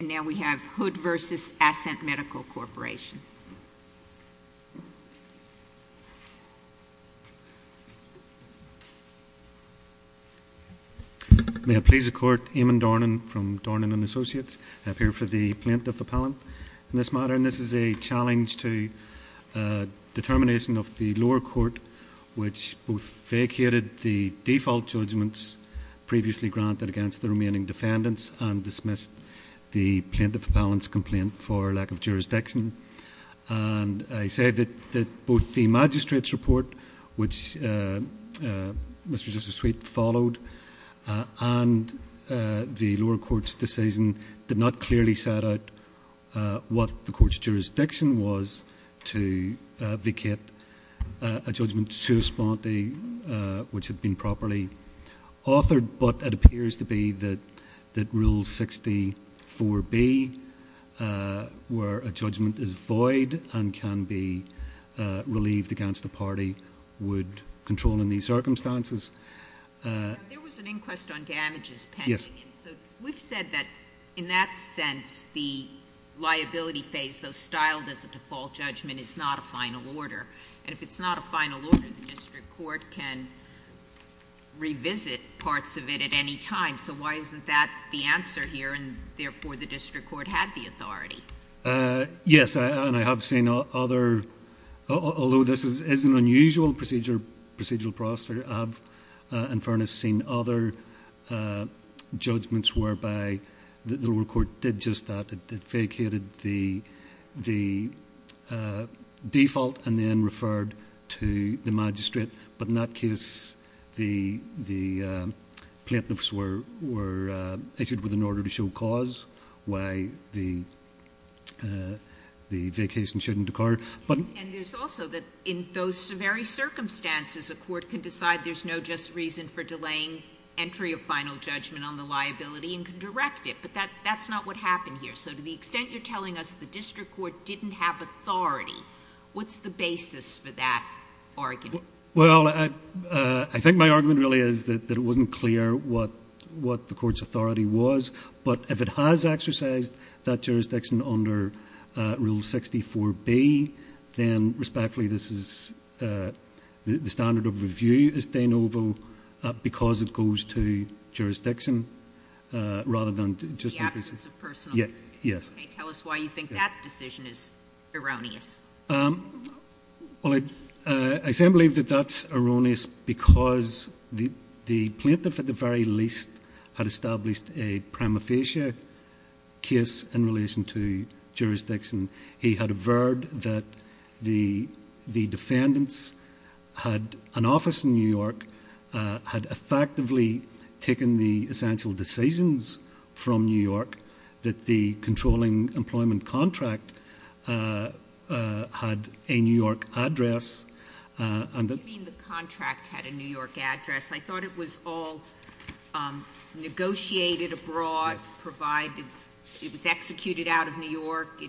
May I please the Court, Eamon Dornan from Dornan and Associates, I'm here for the plaintiff appellant in this matter. And this is a challenge to determination of the lower court which both vacated the default judgments previously granted against the remaining defendants and the plaintiff appellant's complaint for lack of jurisdiction. And I say that both the magistrate's report which Mr and Mrs Sweet followed and the lower court's decision did not clearly set out what the court's jurisdiction was to vacate a judgment which had been properly authored, but it appears to be that Rule 64B, where a judgment is void and can be relieved against the party, would control in these circumstances. There was an inquest on damages pending. Yes. And so we've said that in that sense the liability phase, though styled as a default judgment, is not a final order. And if it's not a final order, the district court can revisit parts of it at any time. So why isn't that the answer here and therefore the district court had the authority? Yes, and I have seen other, although this is an unusual procedural process, I have in fairness seen other judgments whereby the lower court did just that. It vacated the default and then referred to the magistrate. But in that case the plaintiffs were issued with an order to show cause why the vacation shouldn't occur. And there's also that in those very circumstances a court can decide there's no just reason for delaying entry of final judgment on the liability and can direct it. But that's not what happened here. So to the extent you're telling us the district court didn't have authority, what's the basis for that argument? Well, I think my argument really is that it wasn't clear what the court's authority was. But if it has exercised that jurisdiction under Rule 64B, then respectfully this is the standard of review as de novo because it goes to jurisdiction rather than just the person. The absence of personal. Yes. Tell us why you think that decision is erroneous. Well, I say I believe that that's erroneous because the plaintiff at the very least had established a prima facie case in relation to jurisdiction. He had averred that the defendants had an office in New York, had effectively taken the essential decisions from New York, that the controlling employment contract had a New York address, and that— You mean the contract had a New York address. I thought it was all negotiated abroad, provided it was executed out of New York.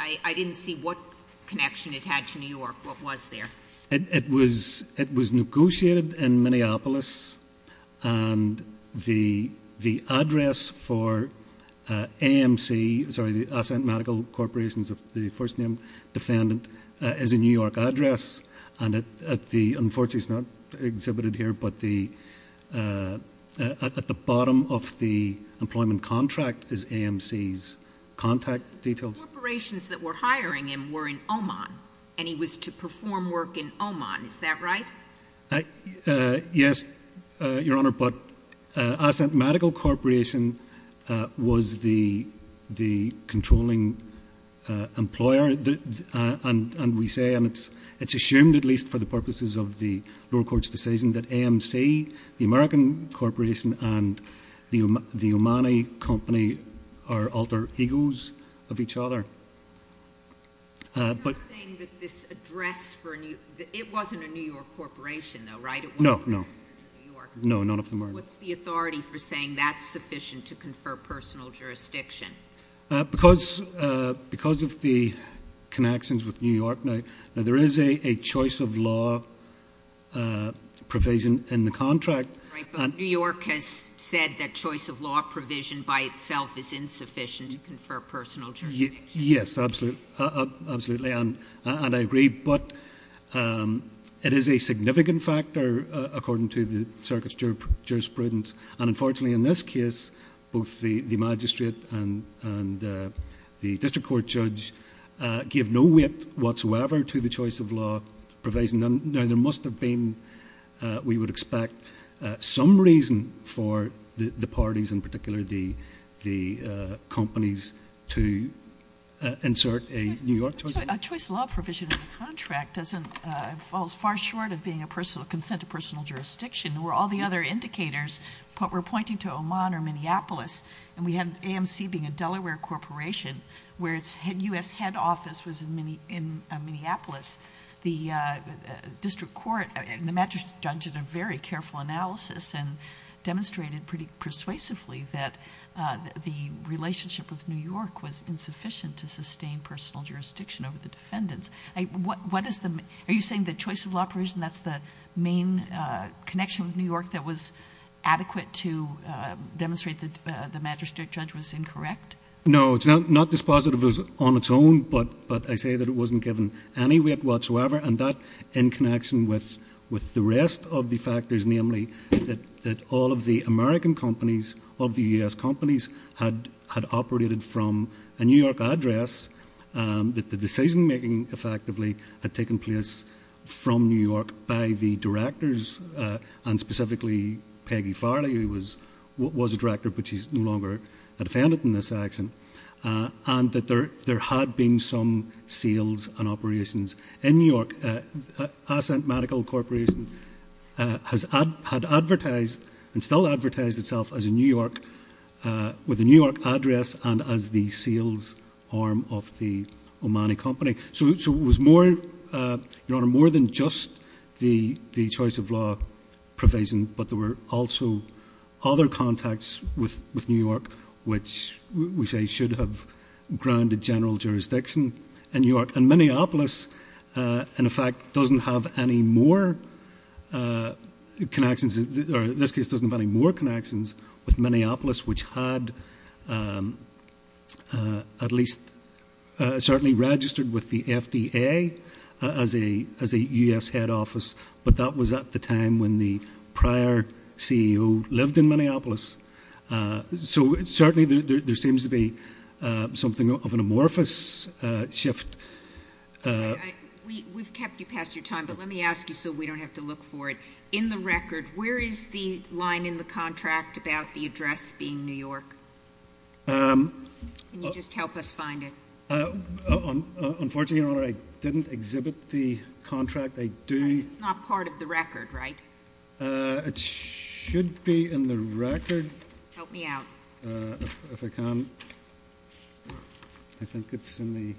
I didn't see what connection it had to New York. What was there? It was negotiated in Minneapolis. And the address for AMC, sorry, the Assent Medical Corporation, the first name defendant, is a New York address. And at the—unfortunately, it's not exhibited here, but at the bottom of the employment contract is AMC's contact details. Corporations that were hiring him were in Oman, and he was to perform work in Oman. Is that right? Yes, Your Honor, but Assent Medical Corporation was the controlling employer, and we say, and it's assumed at least for the purposes of the lower court's decision, that AMC, the American corporation, and the Omani company are alter egos of each other. I'm not saying that this address for—it wasn't a New York corporation though, right? No, no. It wasn't a New York— No, none of them are. What's the reason? Why is that sufficient to confer personal jurisdiction? Because of the connections with New York now. Now, there is a choice of law provision in the contract. Right, but New York has said that choice of law provision by itself is insufficient to confer personal jurisdiction. Yes, absolutely. And I agree, but it is a significant factor according to the circuit's jurisprudence. And unfortunately, in this case, both the magistrate and the district court judge gave no weight whatsoever to the choice of law provision. Now, there must have been, we would expect, some reason for the parties, in particular the companies, to insert a New York choice of law. A choice of law provision in the contract doesn't—falls far short of being a consent to personal jurisdiction, where all the other indicators were pointing to Oman or Minneapolis. And we had AMC being a Delaware corporation, where its U.S. head office was in Minneapolis. The district court and the magistrate judge did a very careful analysis and demonstrated pretty persuasively that the relationship with New York was insufficient to sustain personal jurisdiction over the defendants. What is the—are you saying the choice of law provision, that's the main connection with New York that was adequate to demonstrate that the magistrate judge was incorrect? No, it's not dispositive on its own, but I say that it wasn't given any weight whatsoever. And that in connection with the rest of the factors, namely that all of the American companies, all of the U.S. companies, had operated from a New York address, that the decision-making, effectively, had taken place from New York by the directors and specifically Peggy Farley, who was a director, but she's no longer a defendant in this action, and that there had been some sales and operations in New York. Ascent Medical Corporation had advertised and still advertised itself as a New York—with a New York address and as the sales arm of the Omani company. So it was more, Your Honor, more than just the choice of law provision, but there were also other contacts with New York, which we say should have grounded general jurisdiction in New York. And Minneapolis, in effect, doesn't have any more connections—or this case doesn't have any more connections with Minneapolis, which had at least certainly registered with the FDA as a U.S. head office, but that was at the time when the prior CEO lived in Minneapolis. So certainly there seems to be something of an amorphous shift. We've kept you past your time, but let me ask you so we don't have to look for it. In the record, where is the line in the contract about the address being New York? Can you just help us find it? Unfortunately, Your Honor, I didn't exhibit the contract. I do— And it's not part of the record, right? It should be in the record. Help me out. If I can. I think it's in the—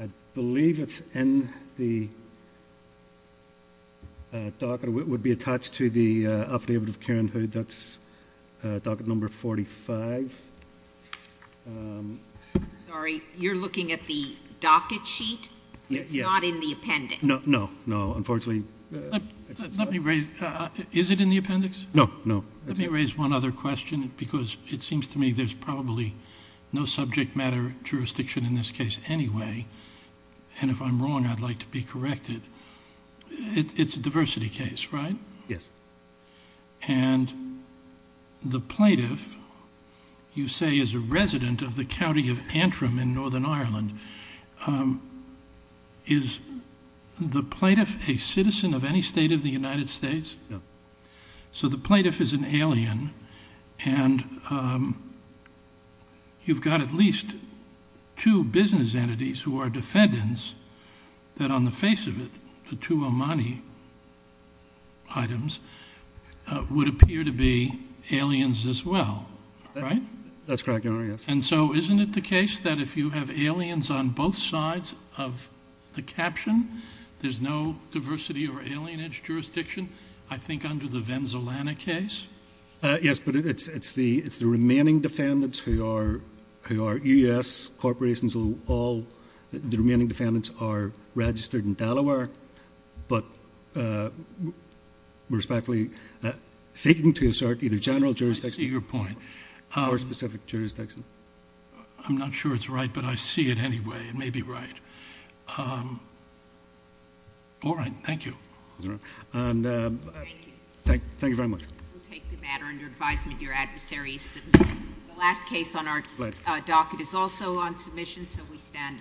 I believe it's in the docket. It would be attached to the affidavit of Karen Hood. That's docket number 45. Sorry. You're looking at the docket sheet? Yeah. It's not in the appendix. No, no, no. Let me raise one other question because it seems to me there's probably no subject matter jurisdiction in this case anyway. And if I'm wrong, I'd like to be corrected. It's a diversity case, right? Yes. And the plaintiff, you say, is a resident of the county of Antrim in Northern Ireland. Is the plaintiff a citizen of any state of the United States? No. So the plaintiff is an alien and you've got at least two business entities who are defendants that on the face of it, the two Omani items, would appear to be aliens as well, right? That's correct, Your Honor, yes. And so isn't it the case that if you have aliens on both sides of the caption, there's no diversity or alienage jurisdiction, I think, under the Venzolana case? Yes, but it's the remaining defendants who are U.S. corporations. The remaining defendants are registered in Dallaware, but we're respectfully seeking to assert either general jurisdiction or specific jurisdiction. I'm not sure it's right, but I see it anyway. It may be right. All right. Thank you. Thank you very much. We'll take the matter under advisement. Your adversary is submitted. The last case on our docket is also on submission, so we stand adjourned.